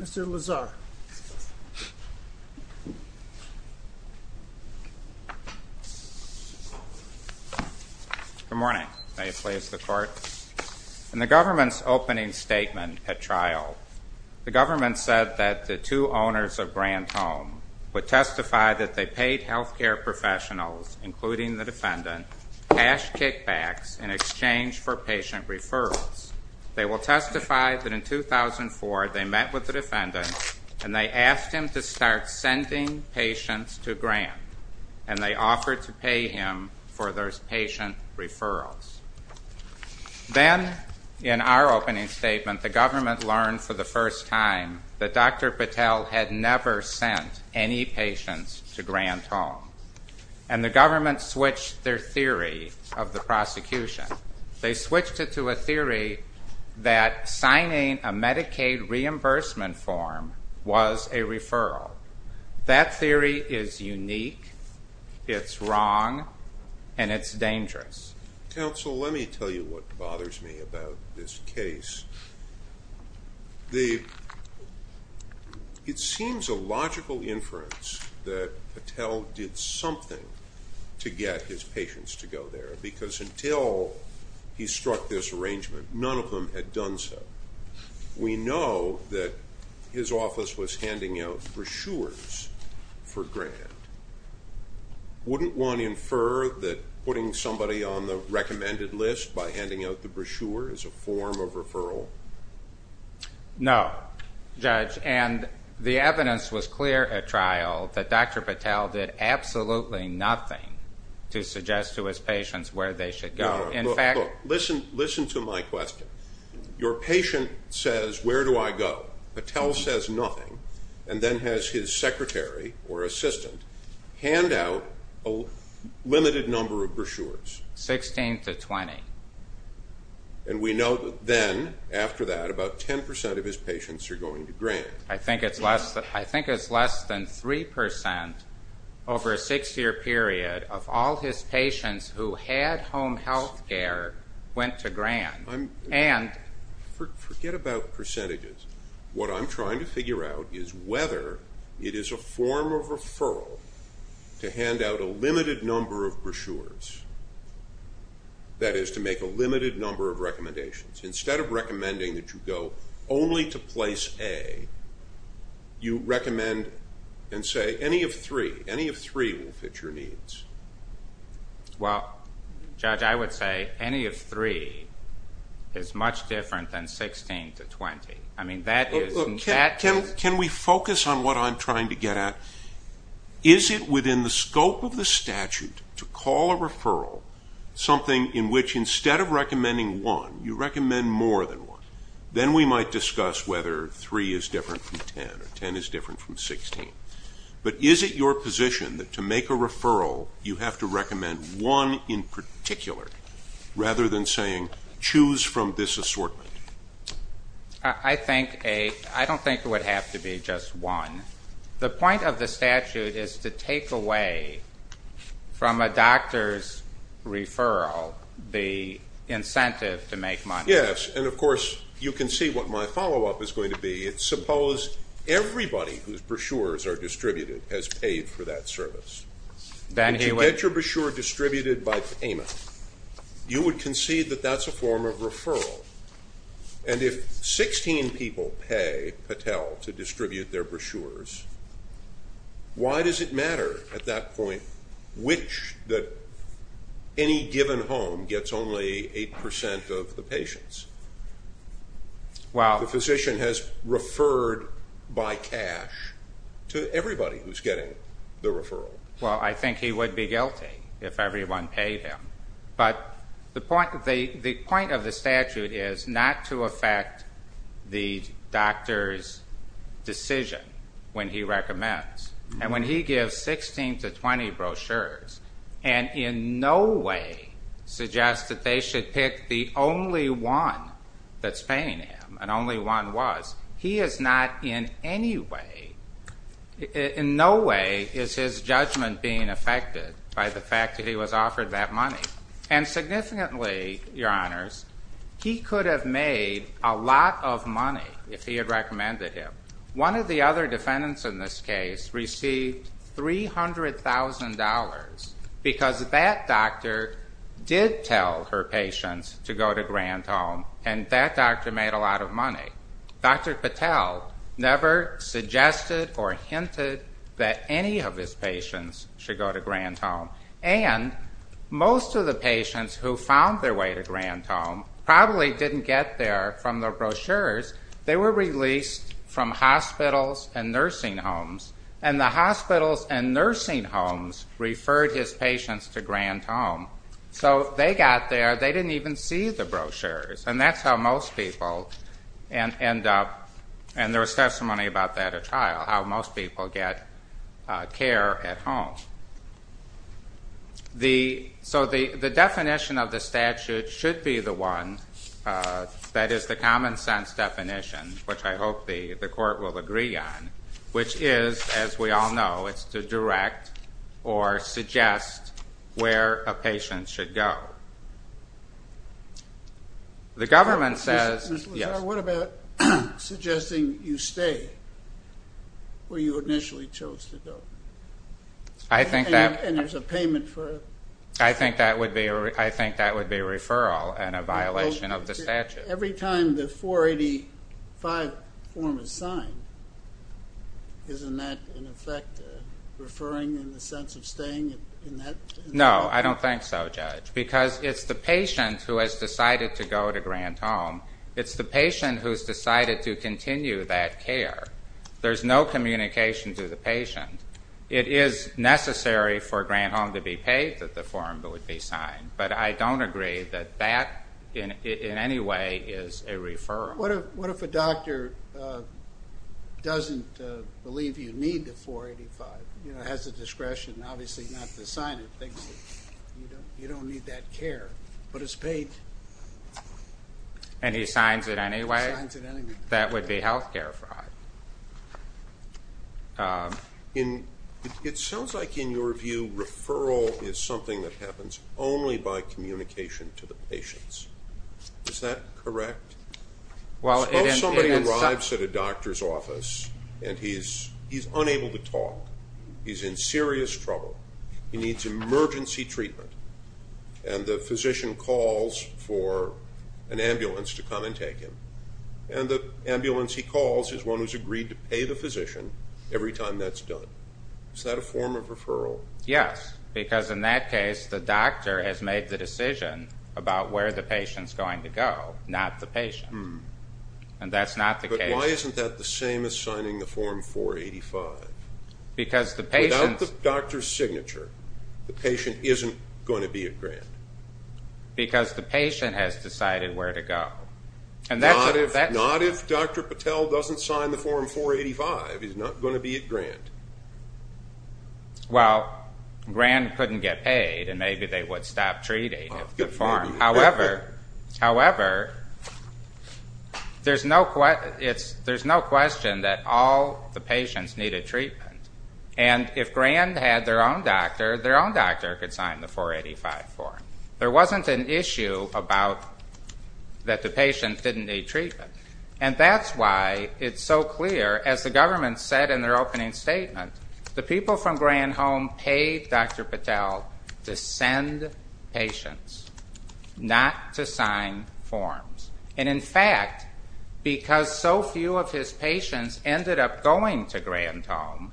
Mr. Lazar Good morning. May it please the court. In the government's opening statement at trial, the government said that the two owners of Grant Home would testify that they paid health care professionals, including the defendant, cash kickbacks in exchange for patient referrals. They will testify that in 2004 they met with the defendant and they asked him to start sending patients to Grant, and they offered to pay him for those patient referrals. Then in our opening statement, the government learned for the first time that Dr. Patel had never sent any patients to Grant Home, and the government switched their theory of signing a Medicaid reimbursement form was a referral. That theory is unique, it's wrong, and it's dangerous. Judge Goldberg Counsel, let me tell you what bothers me about this case. It seems a logical inference that we know that his office was handing out brochures for Grant. Wouldn't one infer that putting somebody on the recommended list by handing out the brochure is a form of referral? Mr. Lazar No, Judge, and the evidence was clear at trial that Dr. Patel did absolutely nothing to suggest Judge Goldberg Look, listen to my question. Your patient says, where do I go? Patel says nothing, and then has his secretary or assistant hand out a limited number of brochures. Mr. Lazar Sixteen to twenty. Judge Goldberg And we know that then, after that, about ten percent of his patients are going to Grant. Mr. Lazar I think it's less than three percent over a six-year period of all his patients who had home health care went to Grant. Judge Goldberg Forget about percentages. What I'm trying to figure out is whether it is a form of referral to hand out a limited number of brochures, that is, to make a limited number of recommendations. Instead of recommending that you go only to place A, you recommend and say any of three will fit your needs. Mr. Lazar Well, Judge, I would say any of three is much different than sixteen to twenty. Judge Goldberg Look, can we focus on what I'm trying to get at? Is it within the scope of the statute to call a referral something in which, instead of recommending one, you recommend more than one? Then we might discuss whether three is different from ten or ten is different from one in particular, rather than saying choose from this assortment. Mr. Lazar I don't think it would have to be just one. The point of the statute is to take away from a doctor's referral the incentive to make money. Judge Goldberg Yes, and of course you can see what my follow-up is going to be. Suppose everybody whose brochures are distributed has paid for that service. Mr. Lazar Then he would Judge Goldberg If you get your brochure distributed by payment, you would concede that that's a form of referral. And if sixteen people pay Patel to distribute their brochures, why does it matter at that point which, that any given home gets only eight percent of the patients? Mr. Lazar Well Judge Goldberg The physician has referred by cash to everybody who's getting the referral. Mr. Lazar Well, I think he would be guilty if everyone paid him. But the point of the statute is not to affect the doctor's decision when he recommends. And when he gives sixteen to twenty brochures and in no way suggests that they should pick the only one that's paying him, and only one was, he is not in any way, in no way is his judgment being affected by the fact that he was offered that money. And significantly, Your Honors, he could have made a lot of money if he had recommended him. One of the other defendants in this case received $300,000 because that doctor did tell her patients to go to Grant Home and that doctor made a lot of money. Dr. Patel never suggested or hinted that any of his patients should go to Grant Home. And most of the patients who found their way to Grant Home probably didn't get there from their brochures. They were released from hospitals and nursing homes. And the hospitals and nursing homes referred his patients to Grant Home. So they got there, they didn't even see the brochures. And that's how most people end up, and there's testimony about that at trial, how most people get care at home. So the definition of the statute should be the one that is the common sense definition, which I hope the court will agree on, which is, as we all know, it's to direct or suggest where a patient should go. The government says... Mr. Lazar, what about suggesting you stay where you initially chose to go? I think that... And there's a payment for it. I think that would be a referral and a violation of the statute. Every time the 485 form is signed, isn't that in effect referring in the sense of staying in that... No, I don't think so, Judge, because it's the patient who has decided to go to Grant Home. It's the patient who has decided to continue that care. There's no communication to the patient. It is necessary for Grant Home to be paid that the form would be signed, but I don't agree that that in any way is a referral. What if a doctor doesn't believe you need the 485, has the discretion, obviously not to sign it, thinks you don't need that care, but is paid... And he signs it anyway? That would be health care fraud. It sounds like, in your view, Is that correct? Suppose somebody arrives at a doctor's office and he's unable to talk, he's in serious trouble, he needs emergency treatment, and the physician calls for an ambulance to come and take him, and the ambulance he calls is one who's agreed to pay the physician every time that's done. Is that a form of referral? Yes, because in that case the doctor has made the decision about where the patient's going to go, not the patient, and that's not the case. But why isn't that the same as signing the Form 485? Because the patient... Without the doctor's signature, the patient isn't going to be at Grant. Because the patient has decided where to go. Not if Dr. Patel doesn't sign the Form 485, he's not going to be at Grant. Well, Grant couldn't get paid, and maybe they would stop treating him. However, there's no question that all the patients needed treatment. And if Grant had their own doctor, their own doctor could sign the Form 485. There wasn't an issue about that the patient didn't need treatment. And that's why it's so clear, as the government said in their opening statement, the people from Grand Home paid Dr. Patel to send patients, not to sign forms. And in fact, because so few of his patients ended up going to Grand Home,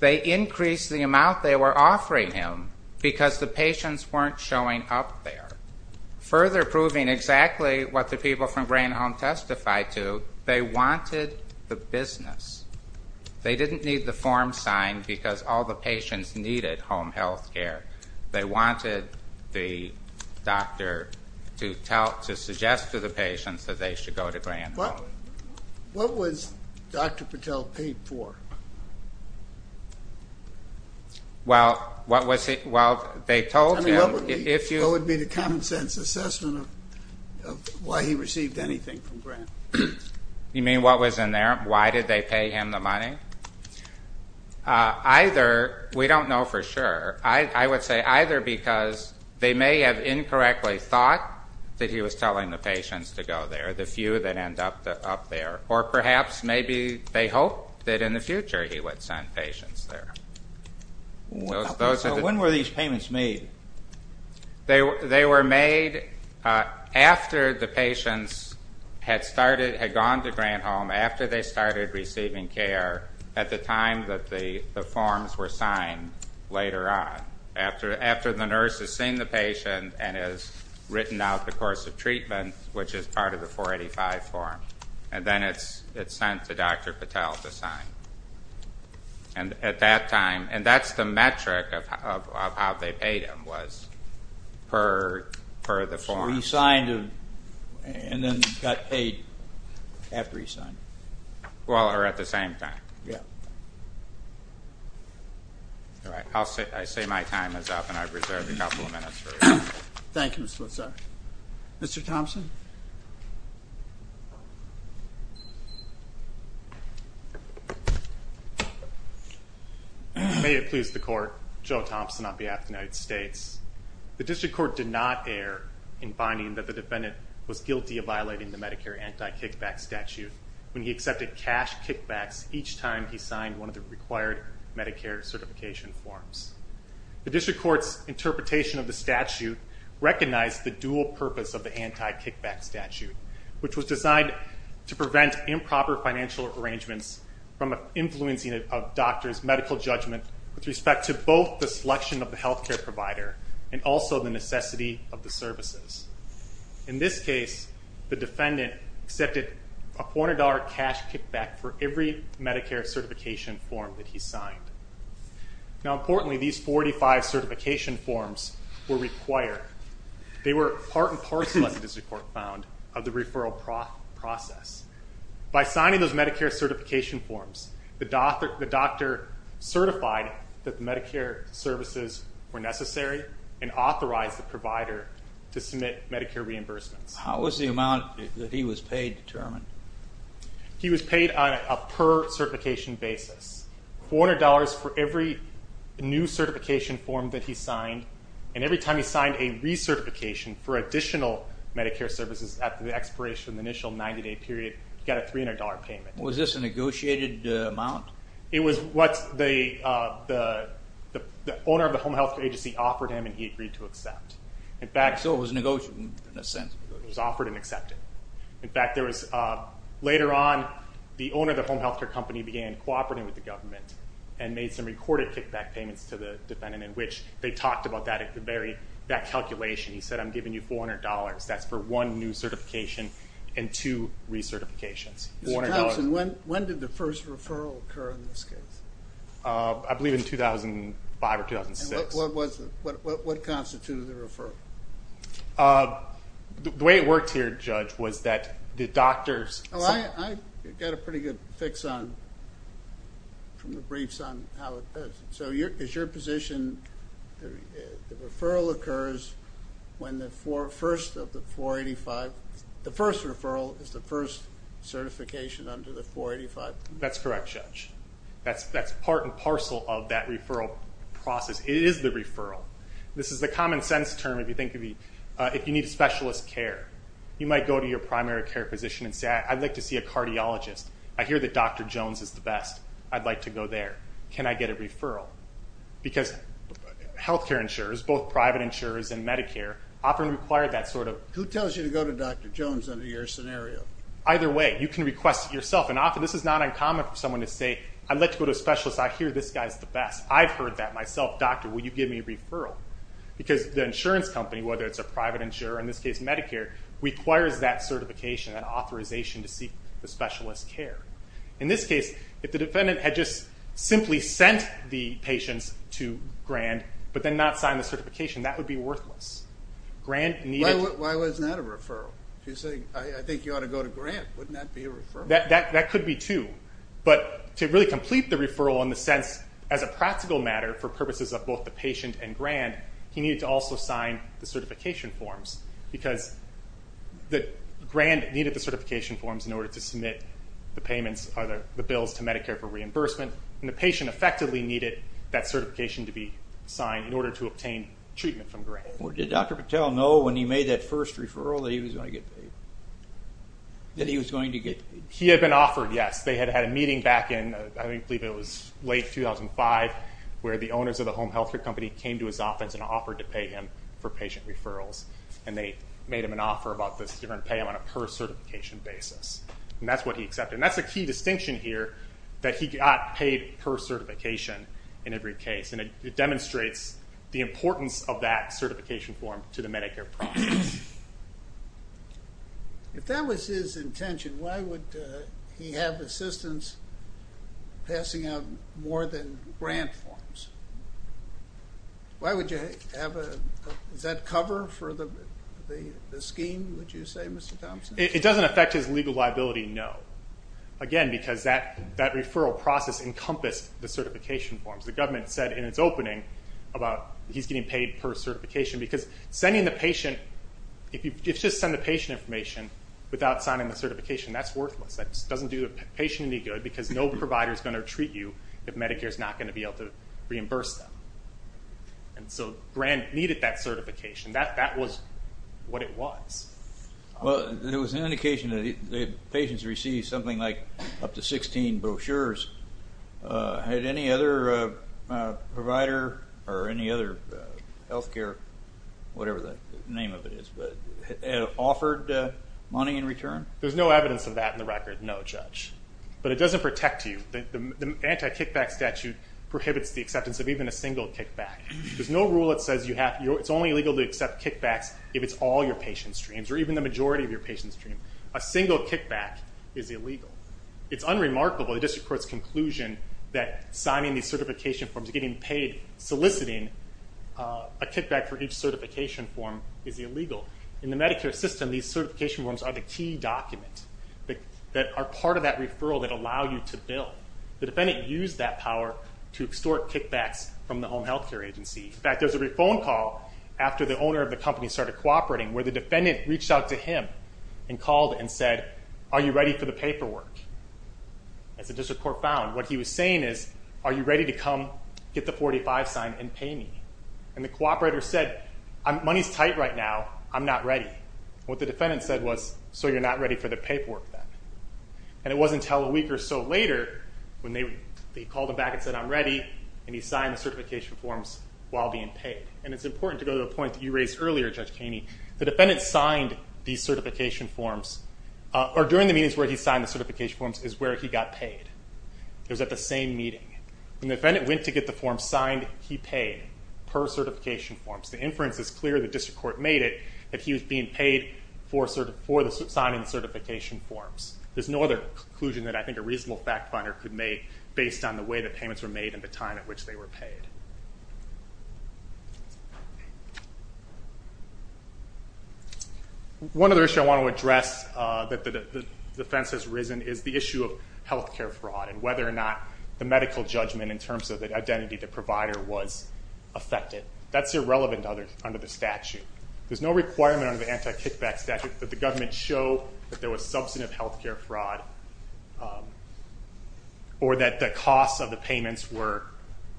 they increased the amount they were offering him because the patients weren't showing up there, further proving exactly what the people from Grand Home testified to. They wanted the business. They didn't need the form signed because all the patients needed home health care. They wanted the doctor to suggest to the patients that they should go to Grand Home. What was Dr. Patel paid for? Well, they told him if you... That would be the common sense assessment of why he received anything from Grant. You mean what was in there? Why did they pay him the money? Either, we don't know for sure, I would say either because they may have incorrectly thought that he was telling the patients to go there, the few that end up there, or perhaps maybe they hoped that in the future he would send patients there. When were these payments made? They were made after the patients had gone to Grand Home, after they started receiving care at the time that the forms were signed later on, after the nurse has seen the patient and has written out the course of treatment, which is part of the 485 form, and then it's sent to Dr. Patel to sign. And at that time, and that's the metric of how they paid him was per the form. So he signed and then got paid after he signed? Well, or at the same time. Yeah. All right, I say my time is up and I've reserved a couple of minutes for... Thank you, Mr. Lutzer. Mr. Thompson? May it please the Court, Joe Thompson on behalf of the United States. The District Court did not err in finding that the defendant was guilty of violating the Medicare anti-kickback statute when he accepted cash kickbacks each time he signed one of the required Medicare certification forms. The District Court's interpretation of the statute recognized the dual purpose of the anti-kickback statute, which was designed to prevent improper financial arrangements from influencing a doctor's medical judgment with respect to both the selection of the health care provider and also the necessity of the services. In this case, the defendant accepted a $400 cash kickback for every Medicare certification form that he signed. Now, importantly, these 485 certification forms were required. They were part and parcel, as the District Court found, of the referral process. By signing those Medicare certification forms, the doctor certified that the Medicare services were necessary and authorized the provider to submit Medicare reimbursements. How was the amount that he was paid determined? He was paid on a per-certification basis, $400 for every new certification form that he signed, and every time he signed a recertification for additional Medicare services after the expiration of the initial 90-day period, he got a $300 payment. Was this a negotiated amount? It was what the owner of the home health care agency offered him, and he agreed to accept. So it was negotiated in a sense. It was offered and accepted. In fact, later on, the owner of the home health care company began cooperating with the government and made some recorded kickback payments to the defendant in which they talked about that calculation. He said, I'm giving you $400. That's for one new certification and two recertifications. Mr. Thompson, when did the first referral occur in this case? I believe in 2005 or 2006. What constituted the referral? The way it worked here, Judge, was that the doctors— I got a pretty good fix from the briefs on how it does. So is your position the referral occurs when the first of the 485? The first referral is the first certification under the 485? That's correct, Judge. That's part and parcel of that referral process. It is the referral. This is the common sense term if you need specialist care. You might go to your primary care physician and say, I'd like to see a cardiologist. I hear that Dr. Jones is the best. I'd like to go there. Can I get a referral? Because health care insurers, both private insurers and Medicare, often require that sort of— Who tells you to go to Dr. Jones under your scenario? Either way, you can request it yourself. And often this is not uncommon for someone to say, I'd like to go to a specialist. I hear this guy is the best. I've heard that myself. Doctor, will you give me a referral? Because the insurance company, whether it's a private insurer, in this case Medicare, requires that certification, that authorization to seek the specialist care. In this case, if the defendant had just simply sent the patients to Grant but then not signed the certification, that would be worthless. Why wasn't that a referral? If you say, I think you ought to go to Grant, wouldn't that be a referral? That could be, too. But to really complete the referral in the sense, as a practical matter, for purposes of both the patient and Grant, he needed to also sign the certification forms because Grant needed the certification forms in order to submit the bills to Medicare for reimbursement, and the patient effectively needed that certification to be signed in order to obtain treatment from Grant. Did Dr. Patel know when he made that first referral that he was going to get paid? That he was going to get paid? He had been offered, yes. They had had a meeting back in, I believe it was late 2005, where the owners of the home health care company came to his office and offered to pay him for patient referrals, and they made him an offer about this, they were going to pay him on a per-certification basis, and that's what he accepted. And that's a key distinction here, that he got paid per certification in every case, and it demonstrates the importance of that certification form to the Medicare process. If that was his intention, why would he have assistance passing out more than Grant forms? Why would you have a, is that cover for the scheme, would you say, Mr. Thompson? It doesn't affect his legal liability, no. Again, because that referral process encompassed the certification forms. The government said in its opening about he's getting paid per certification because sending the patient, if you just send the patient information without signing the certification, that's worthless. That doesn't do the patient any good because no provider is going to treat you if Medicare is not going to be able to reimburse them. And so Grant needed that certification. That was what it was. Well, there was an indication that patients received something like up to 16 brochures. Had any other provider or any other health care, whatever the name of it is, offered money in return? There's no evidence of that in the record, no, Judge, but it doesn't protect you. The anti-kickback statute prohibits the acceptance of even a single kickback. There's no rule that says it's only illegal to accept kickbacks if it's all your patient streams or even the majority of your patient streams. A single kickback is illegal. It's unremarkable, the district court's conclusion, that signing these certification forms, getting paid soliciting a kickback for each certification form is illegal. In the Medicare system, these certification forms are the key document that are part of that referral that allow you to bill. The defendant used that power to extort kickbacks from the home health care agency. In fact, there was a phone call after the owner of the company started cooperating where the defendant reached out to him and called and said, are you ready for the paperwork? As the district court found, what he was saying is, are you ready to come get the 45 sign and pay me? And the cooperator said, money's tight right now, I'm not ready. What the defendant said was, so you're not ready for the paperwork then? And it wasn't until a week or so later when they called him back and said, I'm ready, and he signed the certification forms while being paid. And it's important to go to the point that you raised earlier, Judge Kaney. The defendant signed these certification forms, or during the meetings where he signed the certification forms is where he got paid. It was at the same meeting. When the defendant went to get the forms signed, he paid per certification forms. The inference is clear, the district court made it, that he was being paid for signing the certification forms. There's no other conclusion that I think a reasonable fact finder could make based on the way the payments were made and the time at which they were paid. One other issue I want to address that the defense has risen is the issue of health care fraud and whether or not the medical judgment in terms of the identity of the provider was affected. That's irrelevant under the statute. There's no requirement under the anti-kickback statute that the government show that there was substantive health care fraud or that the costs of the payments were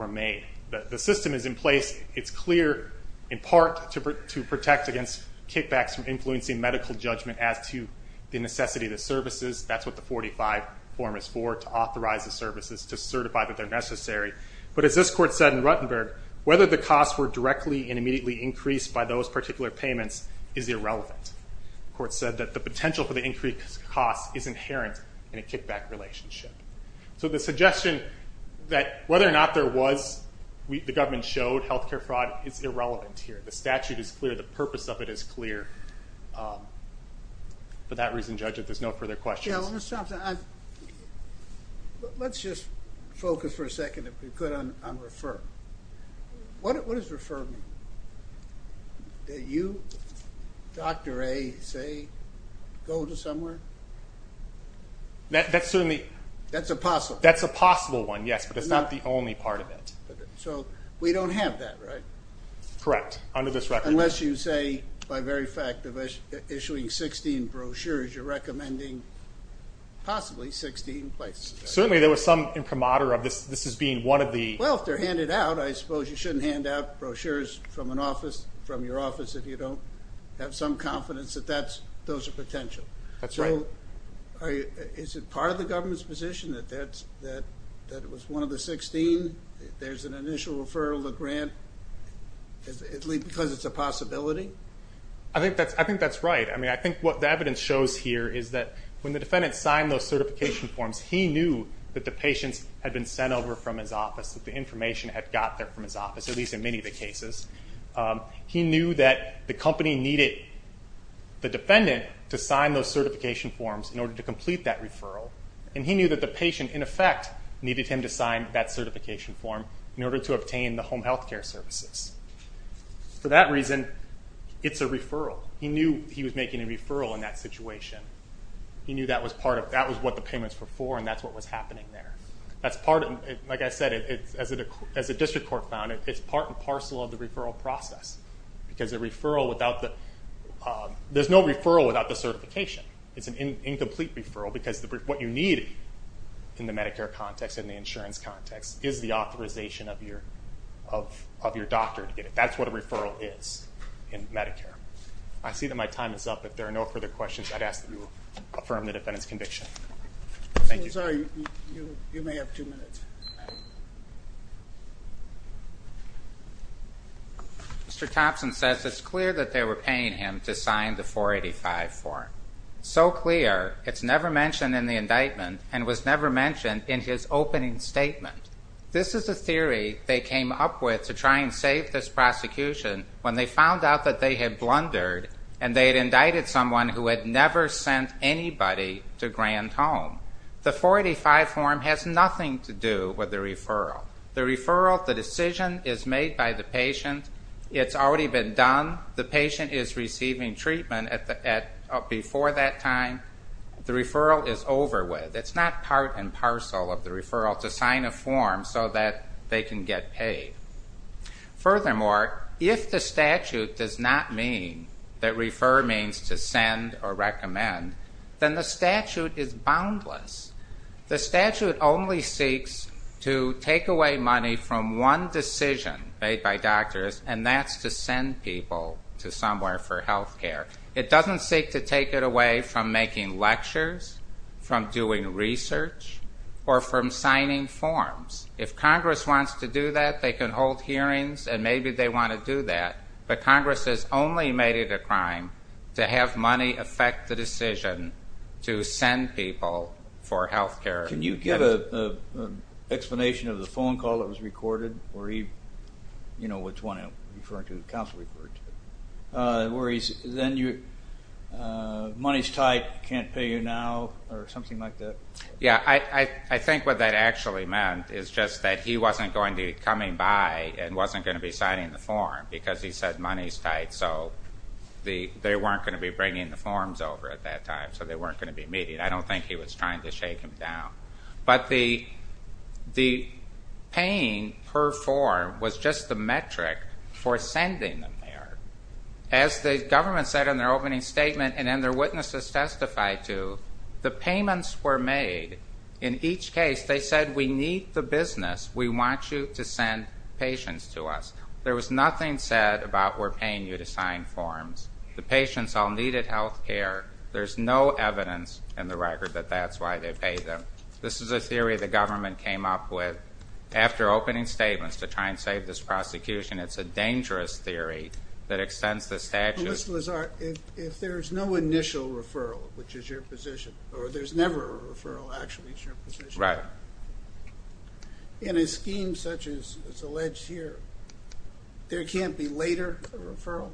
made. The system is in place. It's clear, in part, to protect against kickbacks from influencing medical judgment as to the necessity of the services. That's what the 45 form is for, to authorize the services, to certify that they're necessary. But as this court said in Ruttenberg, whether the costs were directly and immediately increased by those particular payments is irrelevant. The court said that the potential for the increased costs is inherent in a kickback relationship. So the suggestion that whether or not there was, the government showed, health care fraud is irrelevant here. The statute is clear. The purpose of it is clear. For that reason, Judge, if there's no further questions. Yeah, well, Mr. Thompson, let's just focus for a second, if we could, on refer. What does refer mean? That you, Dr. A, say, go to somewhere? That's certainly. That's a possible. That's a possible one, yes, but it's not the only part of it. So we don't have that, right? Correct, under this record. Unless you say, by very fact, issuing 16 brochures, you're recommending possibly 16 places. Certainly, there was some imprimatur of this as being one of the. Well, if they're handed out, I suppose you shouldn't hand out brochures from an office, from your office, if you don't have some confidence that those are potential. That's right. So is it part of the government's position that it was one of the 16? There's an initial referral to grant, at least because it's a possibility? I think that's right. I mean, I think what the evidence shows here is that when the defendant signed those certification forms, he knew that the patients had been sent over from his office, that the information had got there from his office, at least in many of the cases. He knew that the company needed the defendant to sign those certification forms in order to complete that referral, and he knew that the patient, in effect, needed him to sign that certification form in order to obtain the home health care services. For that reason, it's a referral. He knew he was making a referral in that situation. He knew that was what the payments were for, and that's what was happening there. Like I said, as the district court found it, it's part and parcel of the referral process, because there's no referral without the certification. It's an incomplete referral because what you need in the Medicare context and the insurance context is the authorization of your doctor to get it. That's what a referral is in Medicare. I see that my time is up. If there are no further questions, I'd ask that you affirm the defendant's conviction. Thank you. I'm sorry. You may have two minutes. Mr. Thompson says it's clear that they were paying him to sign the 485 form. So clear, it's never mentioned in the indictment and was never mentioned in his opening statement. This is a theory they came up with to try and save this prosecution when they found out that they had blundered and they had indicted someone who had never sent anybody to Grand Home. The 485 form has nothing to do with the referral. The referral, the decision is made by the patient. It's already been done. The patient is receiving treatment before that time. The referral is over with. It's not part and parcel of the referral to sign a form so that they can get paid. Furthermore, if the statute does not mean that refer means to send or recommend, then the statute is boundless. The statute only seeks to take away money from one decision made by doctors, and that's to send people to somewhere for health care. It doesn't seek to take it away from making lectures, from doing research, or from signing forms. If Congress wants to do that, they can hold hearings, and maybe they want to do that, but Congress has only made it a crime to have money affect the decision to send people for health care. Can you give an explanation of the phone call that was recorded where he, you know, which one I'm referring to, the counsel report, where he said, then money's tight, can't pay you now, or something like that? Yeah, I think what that actually meant is just that he wasn't going to be coming by and wasn't going to be signing the form because he said money's tight, so they weren't going to be bringing the forms over at that time, so they weren't going to be meeting. I don't think he was trying to shake him down. But the paying per form was just the metric for sending them there. As the government said in their opening statement and then their witnesses testified to, the payments were made in each case. They said we need the business. We want you to send patients to us. There was nothing said about we're paying you to sign forms. The patients all needed health care. There's no evidence in the record that that's why they pay them. This is a theory the government came up with after opening statements to try and save this prosecution. It's a dangerous theory that extends the statute. Mr. Lazar, if there's no initial referral, which is your position, or there's never a referral, actually, is your position, in a scheme such as is alleged here, there can't be later referral?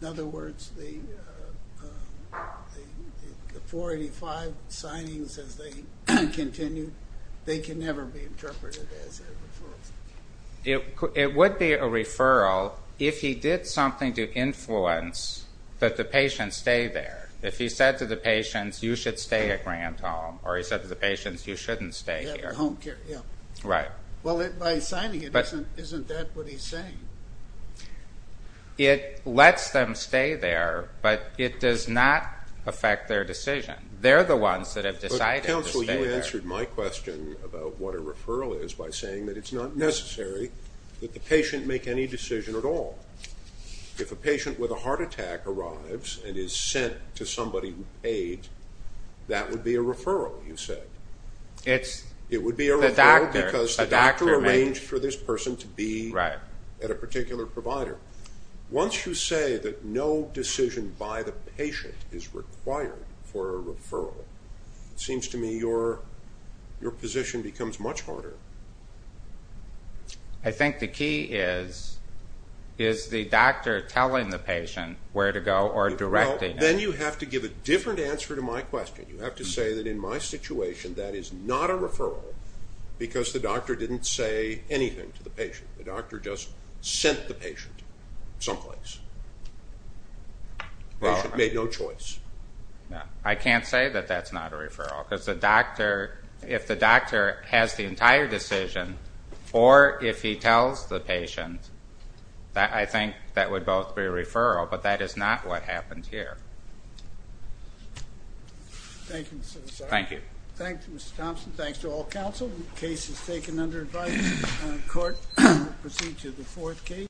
In other words, the 485 signings as they continue, they can never be interpreted as a referral? It would be a referral if he did something to influence that the patients stay there. If he said to the patients, you should stay at Grant Home, or he said to the patients, you shouldn't stay here. Home care, yeah. Right. Well, by signing it, isn't that what he's saying? It lets them stay there, but it does not affect their decision. They're the ones that have decided to stay there. You answered my question about what a referral is by saying that it's not necessary that the patient make any decision at all. If a patient with a heart attack arrives and is sent to somebody who paid, that would be a referral, you said. It's the doctor. It would be a referral because the doctor arranged for this person to be at a particular provider. Once you say that no decision by the patient is required for a referral, it seems to me your position becomes much harder. I think the key is, is the doctor telling the patient where to go or directing it? Then you have to give a different answer to my question. You have to say that in my situation that is not a referral because the doctor didn't say anything to the patient. The doctor just sent the patient someplace. The patient made no choice. I can't say that that's not a referral because the doctor, if the doctor has the entire decision or if he tells the patient, I think that would both be a referral, but that is not what happened here. Thank you. Thank you, Mr. Thompson. Thanks to all counsel. The case is taken under advice in court. We'll proceed to the fourth case.